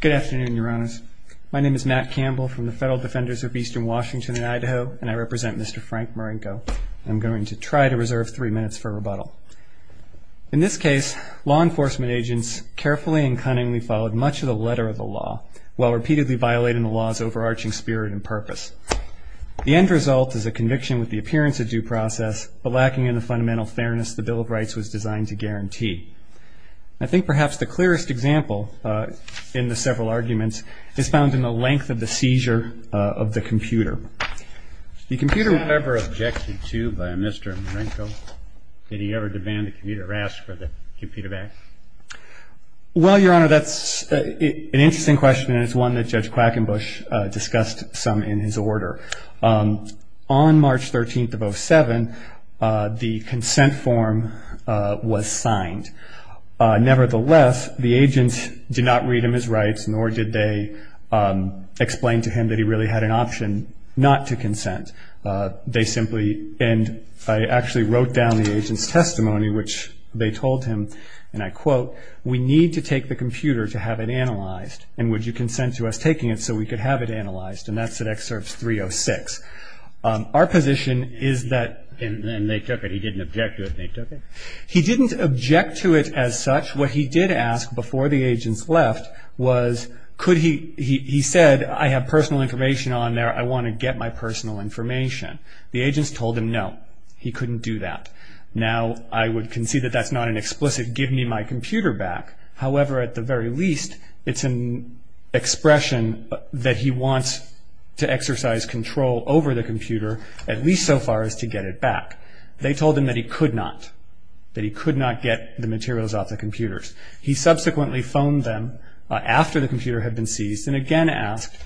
Good afternoon, Your Honors. My name is Matt Campbell from the Federal Defenders of Eastern Washington and Idaho, and I represent Mr. Frank Murinko, and I'm going to try to reserve three minutes for rebuttal. In this case, law enforcement agents carefully and cunningly followed much of the letter of the law, while repeatedly violating the law's overarching spirit and purpose. The end result is a conviction with the appearance of due process, but lacking in the fundamental fairness the Bill of Rights was designed to guarantee. I think perhaps the clearest example in the several arguments is found in the length of the seizure of the computer. The computer was never objected to by Mr. Murinko. Did he ever demand a computer or ask for the computer back? Well, Your Honor, that's an interesting question, and it's one that Judge Quackenbush discussed some in his order. On March 13th of 07, the consent form was signed. Nevertheless, the agents did not read him his rights, nor did they explain to him that he really had an option not to consent. They simply, and I actually wrote down the agent's testimony, which they told him, and I quote, we need to take the computer to have it analyzed, and would you consent to us taking it so we could have it analyzed? And that's at excerpts 306. Our position is that, and they took it. He didn't object to it, and they took it. He didn't object to it as such. What he did ask before the agents left was, he said, I have personal information on there. I want to get my personal information. The agents told him no. He couldn't do that. Now I would concede that that's not an explicit give me my computer back. However, at the very least, it's an expression that he wants to exercise control over the computer, at least so far as to get it back. They told him that he could not, that he could not get the materials off the computers. He subsequently phoned them after the computer had been seized and again asked,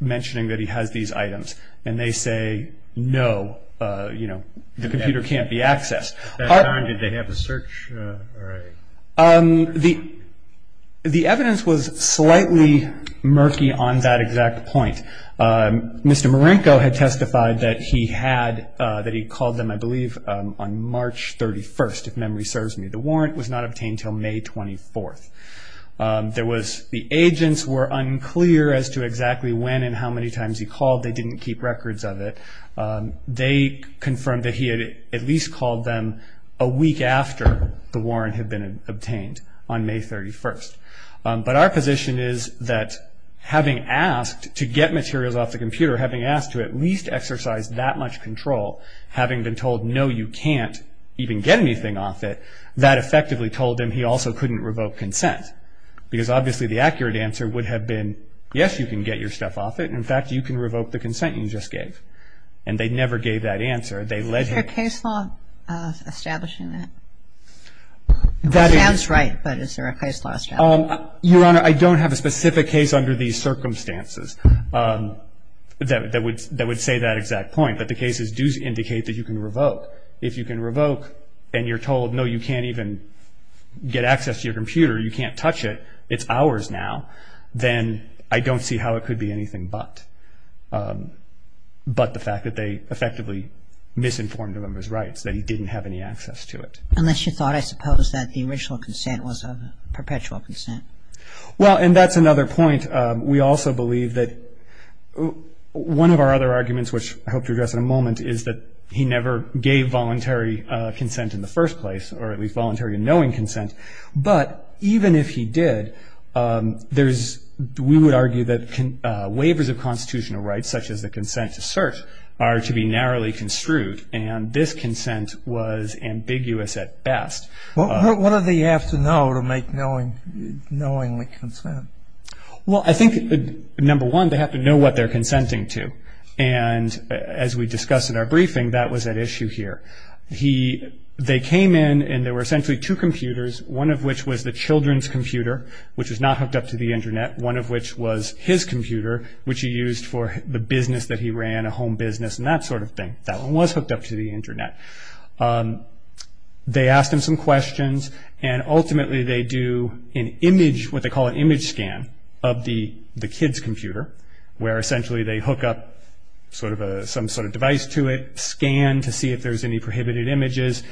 mentioning that he has these items, and they say, no, you know, the computer can't be accessed. At that time, did they have a search? The evidence was slightly murky on that exact point. Mr. Marenko had testified that he had, that he called them, I believe, on March 31st, if memory serves me. The warrant was not obtained until May 24th. There was, the agents were unclear as to exactly when and how many times he called. They didn't keep records of it. They confirmed that he had at least called them a week after the warrant had been obtained on May 31st. But our position is that having asked to get materials off the computer, having asked to at least exercise that much control, having been told, no, you can't even get anything off it, that effectively told him he also couldn't revoke consent. Because obviously the accurate answer would have been, yes, you can get your stuff off it. In fact, you can revoke the consent you just gave. And they never gave that answer. They led him... Is there a case law establishing that? It sounds right, but is there a case law establishing that? Your Honor, I don't have a specific case under these circumstances that would say that exact point. But the cases do indicate that you can revoke. If you can revoke and you're told, no, you can't even get access to your computer, you can't touch it, it's ours now, then I don't see how it could be anything but. But the fact that they effectively misinformed him of his rights, that he didn't have any access to it. Unless you thought, I suppose, that the original consent was a perpetual consent. Well, and that's another point. We also believe that one of our other arguments, which I hope to address in a moment, is that he never gave voluntary consent in the first place, or at least voluntary and knowing consent. But even if he did, we would argue that waivers of constitutional rights, such as the consent to search, are to be narrowly construed. And this consent was ambiguous at best. What do they have to know to make knowingly consent? Well, I think, number one, they have to know what they're consenting to. And as we discussed in our briefing, that was at issue here. They came in and there were essentially two computers, one of which was the children's computer, which was not hooked up to the Internet, one of which was his computer, which he used for the business that he ran, a home business, and that sort of thing. That one was hooked up to the Internet. They asked him some questions and ultimately they do an image, what they call an image scan, of the kid's computer, where essentially they hook up some sort of device to it, scan to see if there's any prohibited images.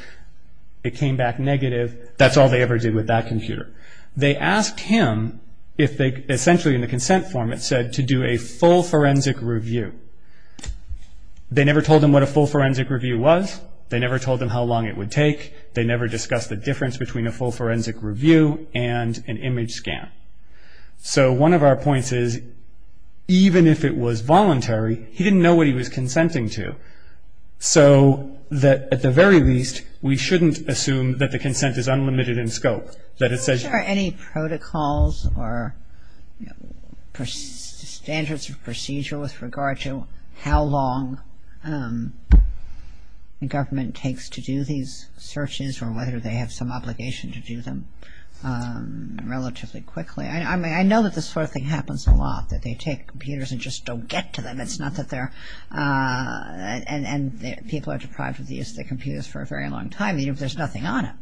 It came back negative. That's all they ever did with that computer. They asked him, essentially in the consent form it said, to do a full forensic review. They never told him what a full forensic review was. They never told him how long it would take. They never discussed the difference between a full forensic review and an image scan. So one of our points is, even if it was voluntary, he didn't know what he was consenting to. So at the very least, we shouldn't assume that the consent is unlimited in scope, that it says Are there any protocols or standards of procedure with regard to how long the government takes to do these searches or whether they have some obligation to do them relatively quickly? I know that this sort of thing happens a lot, that they take computers and just don't get to them. It's not that they're, and people are deprived of these computers for a very long time, even if there's nothing on them.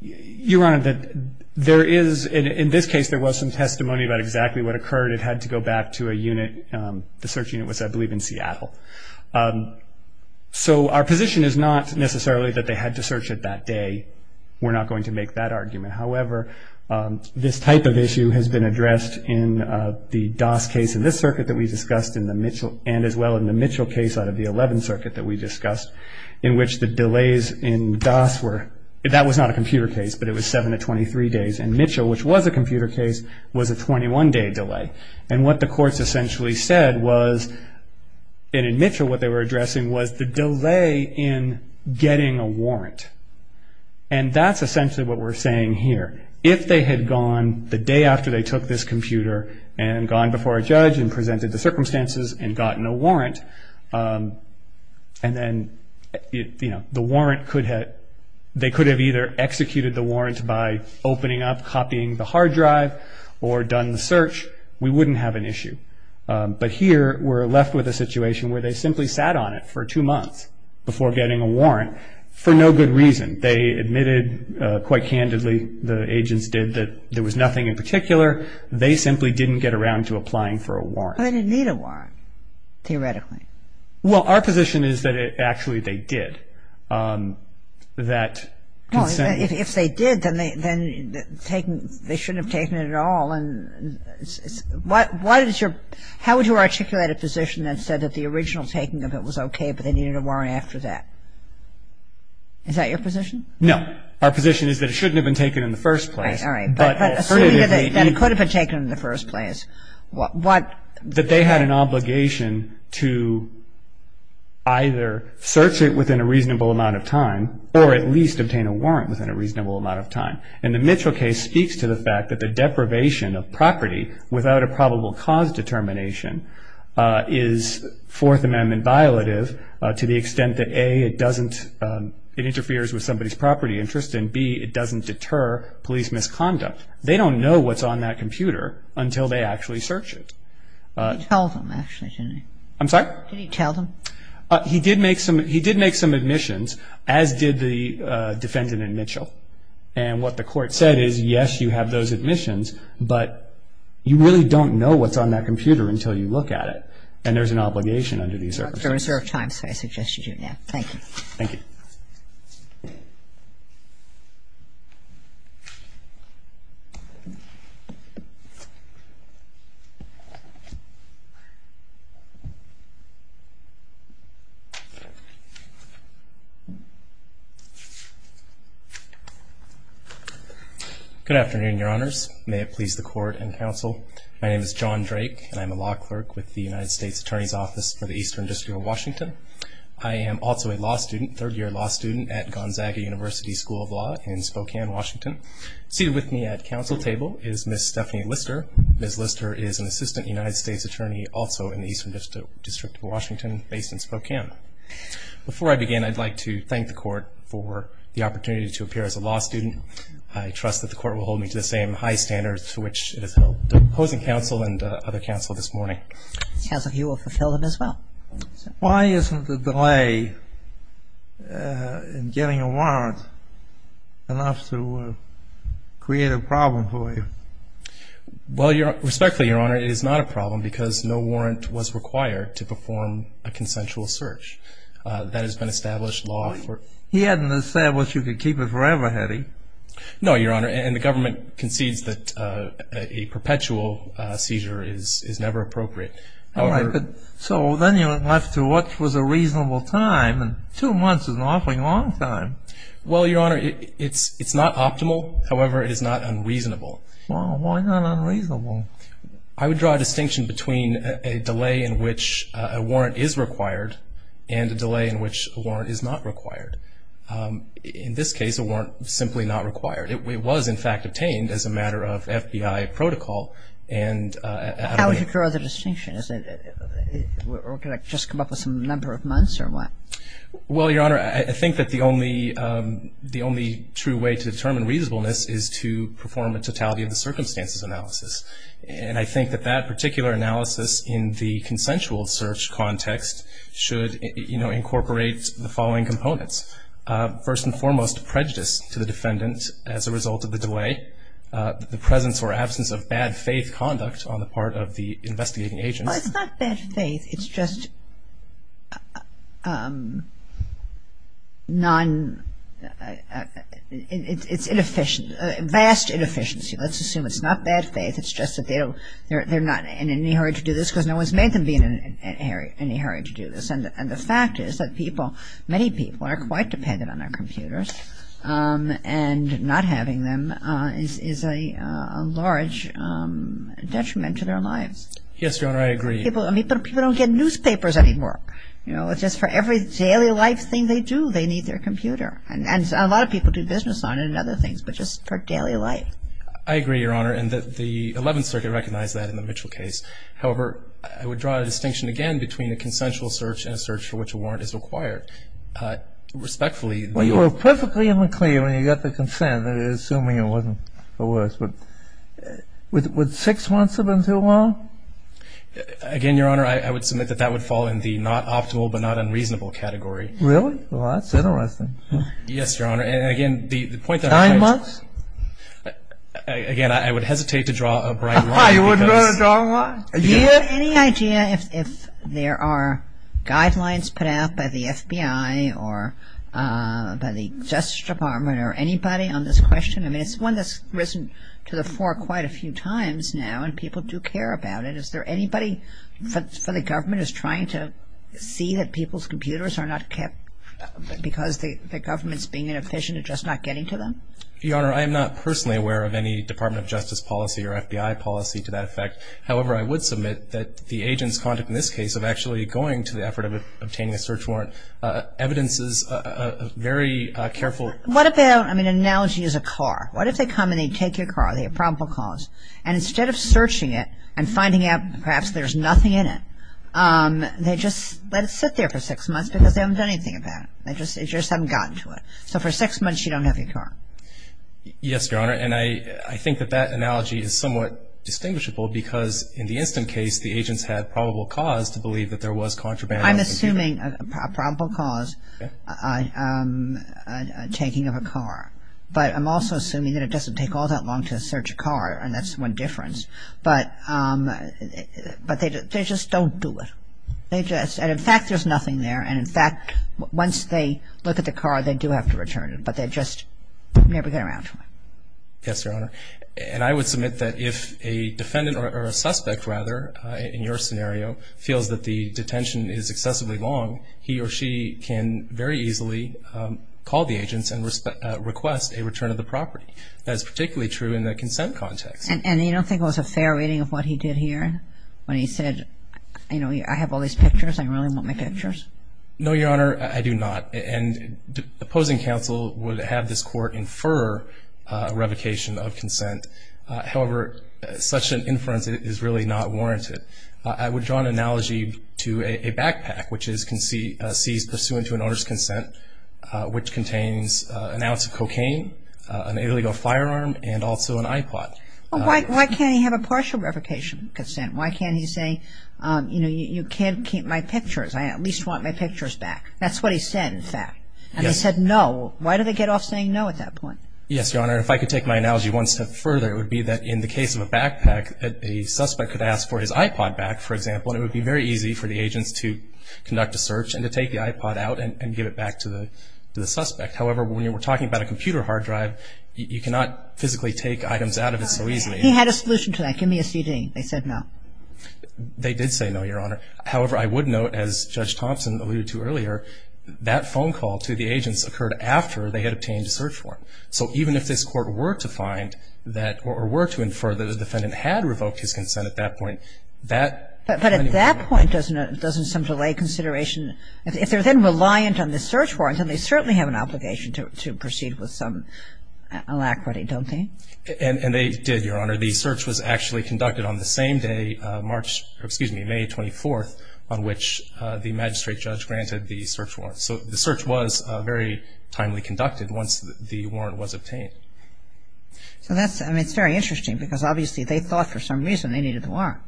Your Honor, there is, in this case, there was some testimony about exactly what occurred. It had to go back to a unit. The search unit was, I believe, in Seattle. So our position is not necessarily that they had to search it that day. We're not going to make that argument. However, this type of issue has been addressed in the Doss case in this circuit that we discussed and as well in the Mitchell case out of the 11th Circuit that we discussed, in which the delays in Doss were, that was not a computer case, but it was 7 to 23 days, and Mitchell, which was a computer case, was a 21-day delay. And what the courts essentially said was, and in Mitchell what they were addressing, was the delay in getting a warrant. And that's essentially what we're saying here. If they had gone the day after they took this computer and gone before a judge and presented the circumstances and gotten a warrant, and then they could have either executed the warrant by opening up, copying the hard drive, or done the search, we wouldn't have an issue. But here we're left with a situation where they simply sat on it for two months before getting a warrant for no good reason. They admitted quite candidly, the agents did, that there was nothing in particular. They simply didn't get around to applying for a warrant. They didn't need a warrant, theoretically. Well, our position is that actually they did. If they did, then they shouldn't have taken it at all. How would you articulate a position that said that the original taking of it was okay, but they needed a warrant after that? Is that your position? No. Our position is that it shouldn't have been taken in the first place. All right, all right. But it could have been taken in the first place. That they had an obligation to either search it within a reasonable amount of time or at least obtain a warrant within a reasonable amount of time. And the Mitchell case speaks to the fact that the deprivation of property without a probable cause determination is Fourth Amendment violative to the extent that, A, it interferes with somebody's property interest, and, B, it doesn't deter police misconduct. They don't know what's on that computer until they actually search it. You told them, actually, didn't you? I'm sorry? Did you tell them? He did make some admissions, as did the defendant in Mitchell. And what the Court said is, yes, you have those admissions, but you really don't know what's on that computer until you look at it, and there's an obligation under these circumstances. Thank you. Thank you. Good afternoon, Your Honors. May it please the Court and counsel, my name is John Drake, and I'm a law clerk with the United States Attorney's Office for the Eastern District of Washington. I am also a law student, third-year law student, at Gonzaga University School of Law in Spokane, Washington. Seated with me at counsel table is Ms. Stephanie Lister. Ms. Lister is an Assistant United States Attorney, also in the Eastern District of Washington based in Spokane. Before I begin, I'd like to thank the Court for the opportunity to appear as a law student. I trust that the Court will hold me to the same high standards to which it has held opposing counsel and other counsel this morning. Counsel, he will fulfill them as well. Why isn't the delay in getting a warrant enough to create a problem for you? Well, respectfully, Your Honor, it is not a problem because no warrant was required to perform a consensual search. That has been established law for... He hadn't established you could keep it forever, had he? No, Your Honor, and the government concedes that a perpetual seizure is never appropriate. All right, so then you're left to what was a reasonable time, and two months is an awfully long time. Well, Your Honor, it's not optimal. However, it is not unreasonable. Well, why not unreasonable? I would draw a distinction between a delay in which a warrant is required and a delay in which a warrant is not required. In this case, a warrant is simply not required. It was, in fact, obtained as a matter of FBI protocol, and... How would you draw the distinction? Or could I just come up with some number of months or what? Well, Your Honor, I think that the only true way to determine reasonableness is to perform a totality of the circumstances analysis, and I think that that particular analysis in the consensual search context should, you know, incorporate the following components. First and foremost, prejudice to the defendant as a result of the delay. The presence or absence of bad faith conduct on the part of the investigating agent. Well, it's not bad faith. It's just non-it's inefficient, vast inefficiency. Let's assume it's not bad faith. It's just that they're not in any hurry to do this because no one's made them be in any hurry to do this, and the fact is that people, many people, are quite dependent on their computers, and not having them is a large detriment to their lives. Yes, Your Honor, I agree. People don't get newspapers anymore. You know, just for every daily life thing they do, they need their computer. And a lot of people do business on it and other things, but just for daily life. I agree, Your Honor, and the Eleventh Circuit recognized that in the Mitchell case. However, I would draw a distinction again between a consensual search and a search for which a warrant is required. Respectfully. Well, you were perfectly in the clear when you got the consent, assuming it wasn't for worse. Would six months have been too long? Again, Your Honor, I would submit that that would fall in the not optimal but not unreasonable category. Really? Well, that's interesting. Yes, Your Honor, and again, the point that I'm trying to... Nine months? Again, I would hesitate to draw a bright line because... I would draw a dark line. Do you have any idea if there are guidelines put out by the FBI or by the Justice Department or anybody on this question? I mean, it's one that's risen to the fore quite a few times now, and people do care about it. Is there anybody for the government who's trying to see that people's computers are not kept because the government's being inefficient at just not getting to them? Your Honor, I am not personally aware of any Department of Justice policy or FBI policy to that effect. However, I would submit that the agent's conduct in this case of actually going to the effort of obtaining a search warrant evidences a very careful... What about, I mean, an analogy is a car. What if they come and they take your car, they have probable cause, and instead of searching it and finding out perhaps there's nothing in it, they just let it sit there for six months because they haven't done anything about it. They just haven't gotten to it. So for six months you don't have your car. Yes, Your Honor, and I think that that analogy is somewhat distinguishable because in the instant case the agents had probable cause to believe that there was contraband... I'm assuming a probable cause taking of a car, but I'm also assuming that it doesn't take all that long to search a car, and that's one difference. But they just don't do it. They just, and in fact there's nothing there, and in fact once they look at the car they do have to return it, but they just never get around to it. Yes, Your Honor, and I would submit that if a defendant or a suspect rather in your scenario feels that the detention is excessively long, he or she can very easily call the agents and request a return of the property. That is particularly true in the consent context. And you don't think it was a fair reading of what he did here when he said, you know, I have all these pictures, I really want my pictures? No, Your Honor, I do not. And opposing counsel would have this court infer a revocation of consent. However, such an inference is really not warranted. I would draw an analogy to a backpack, which is seized pursuant to an owner's consent, which contains an ounce of cocaine, an illegal firearm, and also an iPod. Why can't he say, you know, you can't keep my pictures. I at least want my pictures back. That's what he said, in fact. And they said no. Why did they get off saying no at that point? Yes, Your Honor. If I could take my analogy one step further, it would be that in the case of a backpack, a suspect could ask for his iPod back, for example, and it would be very easy for the agents to conduct a search and to take the iPod out and give it back to the suspect. However, when we're talking about a computer hard drive, you cannot physically take items out of it so easily. He had a solution to that. Give me a CD. They said no. They did say no, Your Honor. However, I would note, as Judge Thompson alluded to earlier, that phone call to the agents occurred after they had obtained a search warrant. So even if this Court were to find that, or were to infer that the defendant had revoked his consent at that point, that. But at that point, doesn't some delay consideration, if they're then reliant on the search warrant, then they certainly have an obligation to proceed with some alacrity, don't they? And they did, Your Honor. The search was actually conducted on the same day, March, excuse me, May 24th, on which the magistrate judge granted the search warrant. So the search was very timely conducted once the warrant was obtained. So that's, I mean, it's very interesting because obviously they thought for some reason they needed the warrant.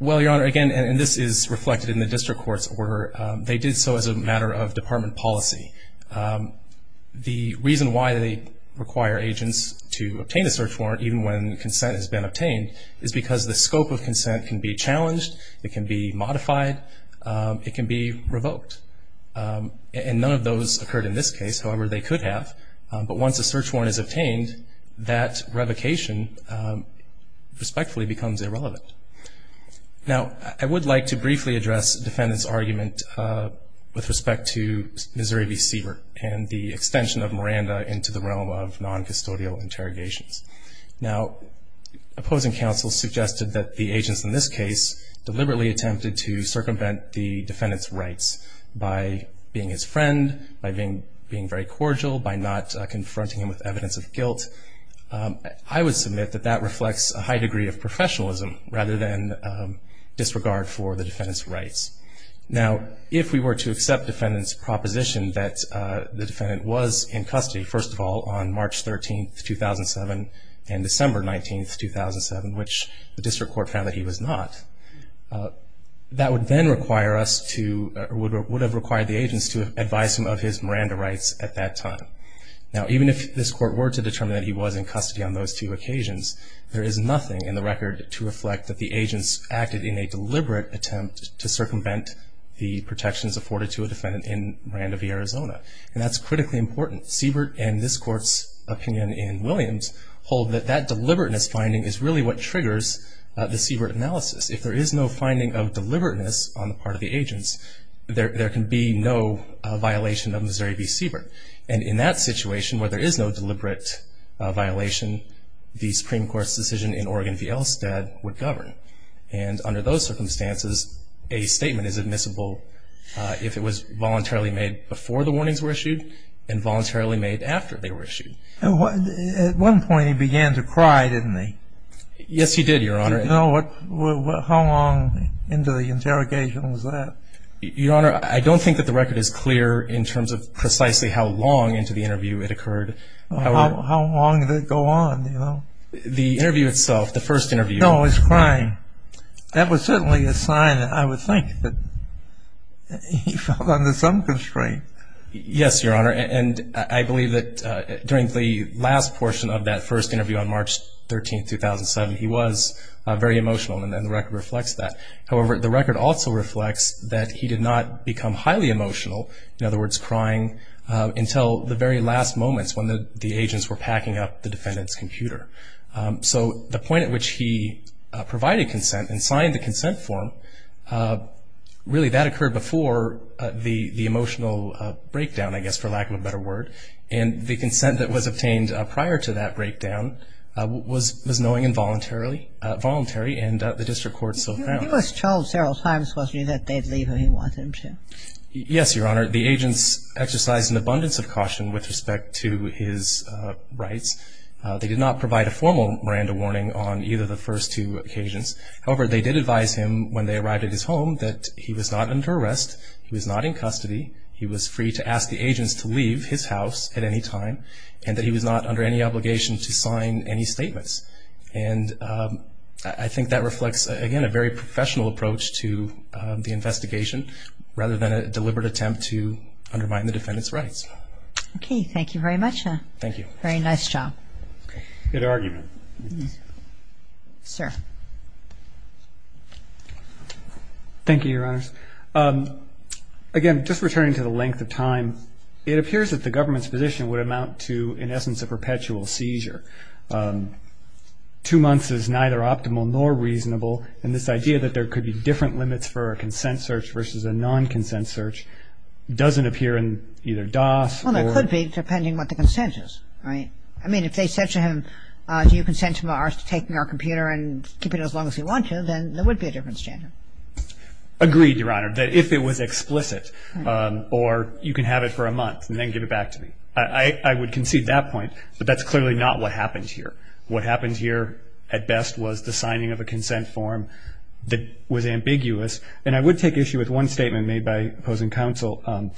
Well, Your Honor, again, and this is reflected in the district court's order, they did so as a matter of department policy. The reason why they require agents to obtain a search warrant, even when consent has been obtained, is because the scope of consent can be challenged, it can be modified, it can be revoked. And none of those occurred in this case. However, they could have. But once a search warrant is obtained, that revocation respectfully becomes irrelevant. Now, I would like to briefly address the defendant's argument with respect to Missouri v. Siebert and the extension of Miranda into the realm of noncustodial interrogations. Now, opposing counsel suggested that the agents in this case deliberately attempted to circumvent the defendant's rights by being his friend, by being very cordial, by not confronting him with evidence of guilt. I would submit that that reflects a high degree of professionalism rather than disregard for the defendant's rights. Now, if we were to accept defendant's proposition that the defendant was in custody, first of all, on March 13, 2007, and December 19, 2007, which the district court found that he was not, that would then require us to, would have required the agents to advise him of his Miranda rights at that time. Now, even if this court were to determine that he was in custody on those two occasions, there is nothing in the record to reflect that the agents acted in a deliberate attempt to circumvent the protections afforded to a defendant in Miranda v. Arizona. And that's critically important. Siebert and this court's opinion in Williams hold that that deliberateness finding is really what triggers the Siebert analysis. If there is no finding of deliberateness on the part of the agents, there can be no violation of Missouri v. Siebert. And in that situation where there is no deliberate violation, the Supreme Court's decision in Oregon v. Elstad would govern. And under those circumstances, a statement is admissible if it was voluntarily made before the warnings were issued and voluntarily made after they were issued. At one point he began to cry, didn't he? Yes, he did, Your Honor. How long into the interrogation was that? Your Honor, I don't think that the record is clear in terms of precisely how long into the interview it occurred. How long did it go on, you know? The interview itself, the first interview. No, he was crying. That was certainly a sign, I would think, that he fell under some constraint. Yes, Your Honor, and I believe that during the last portion of that first interview on March 13, 2007, he was very emotional, and the record reflects that. However, the record also reflects that he did not become highly emotional, in other words, crying until the very last moments when the agents were packing up the defendant's computer. So the point at which he provided consent and signed the consent form, really, that occurred before the emotional breakdown, I guess, for lack of a better word. And the consent that was obtained prior to that breakdown was knowing and voluntary, and the district court so found. He was told several times, wasn't he, that they'd leave if he wanted them to. Yes, Your Honor. The agents exercised an abundance of caution with respect to his rights. They did not provide a formal Miranda warning on either of the first two occasions. However, they did advise him when they arrived at his home that he was not under arrest, he was not in custody, he was free to ask the agents to leave his house at any time, and that he was not under any obligation to sign any statements. And I think that reflects, again, a very professional approach to the investigation, rather than a deliberate attempt to undermine the defendant's rights. Okay. Thank you very much. Thank you. Very nice job. Good argument. Sir. Thank you, Your Honors. Again, just returning to the length of time, it appears that the government's position would amount to, in essence, a perpetual seizure. Two months is neither optimal nor reasonable, and this idea that there could be different limits for a consent search versus a non-consent search doesn't appear in either DOS or… Well, it could be, depending on what the consent is, right? I mean, if they said to him, do you consent to taking our computer and keeping it as long as you want to, then there would be a different standard. Agreed, Your Honor, that if it was explicit, or you can have it for a month and then give it back to me. I would concede that point, but that's clearly not what happened here. What happened here, at best, was the signing of a consent form that was ambiguous, and I would take issue with one statement made by opposing counsel.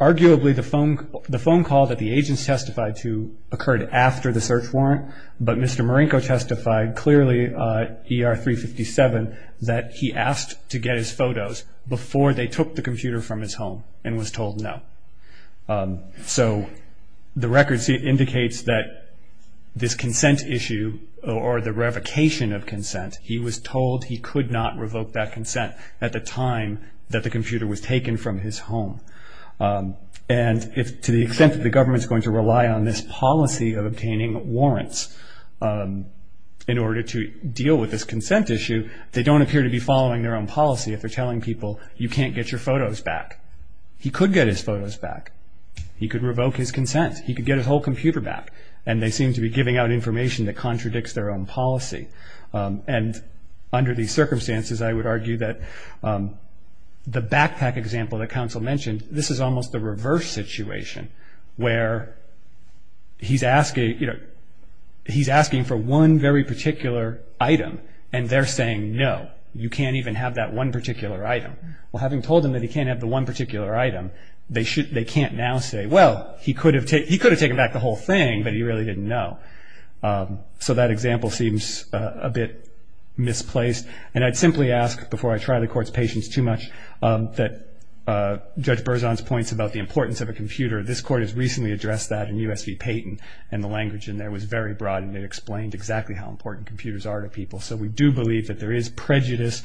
Arguably, the phone call that the agents testified to occurred after the search warrant, but Mr. Marinko testified clearly, ER 357, that he asked to get his photos before they took the computer from his home and was told no. So the record indicates that this consent issue, or the revocation of consent, he was told he could not revoke that consent at the time that the computer was taken from his home. And to the extent that the government is going to rely on this policy of obtaining warrants in order to deal with this consent issue, they don't appear to be following their own policy if they're telling people, you can't get your photos back. He could get his photos back. He could revoke his consent. He could get his whole computer back. And they seem to be giving out information that contradicts their own policy. And under these circumstances, I would argue that the backpack example that counsel mentioned, this is almost the reverse situation where he's asking for one very particular item, and they're saying, no, you can't even have that one particular item. Well, having told him that he can't have the one particular item, they can't now say, well, he could have taken back the whole thing, but he really didn't know. So that example seems a bit misplaced. And I'd simply ask, before I try the Court's patience too much, that Judge Berzon's points about the importance of a computer, this Court has recently addressed that in U.S. v. Payton, and the language in there was very broad, and it explained exactly how important computers are to people. So we do believe that there is prejudiced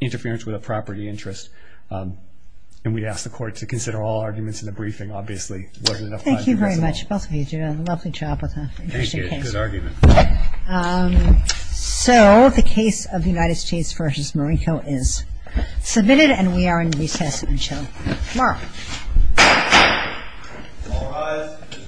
interference with a property interest. And we'd ask the Court to consider all arguments in the briefing. Obviously, there wasn't enough time. Thank you very much. Both of you did a lovely job with the interesting case. Thank you. Good argument. So the case of the United States v. Morico is submitted, and we are in recess until tomorrow. All rise.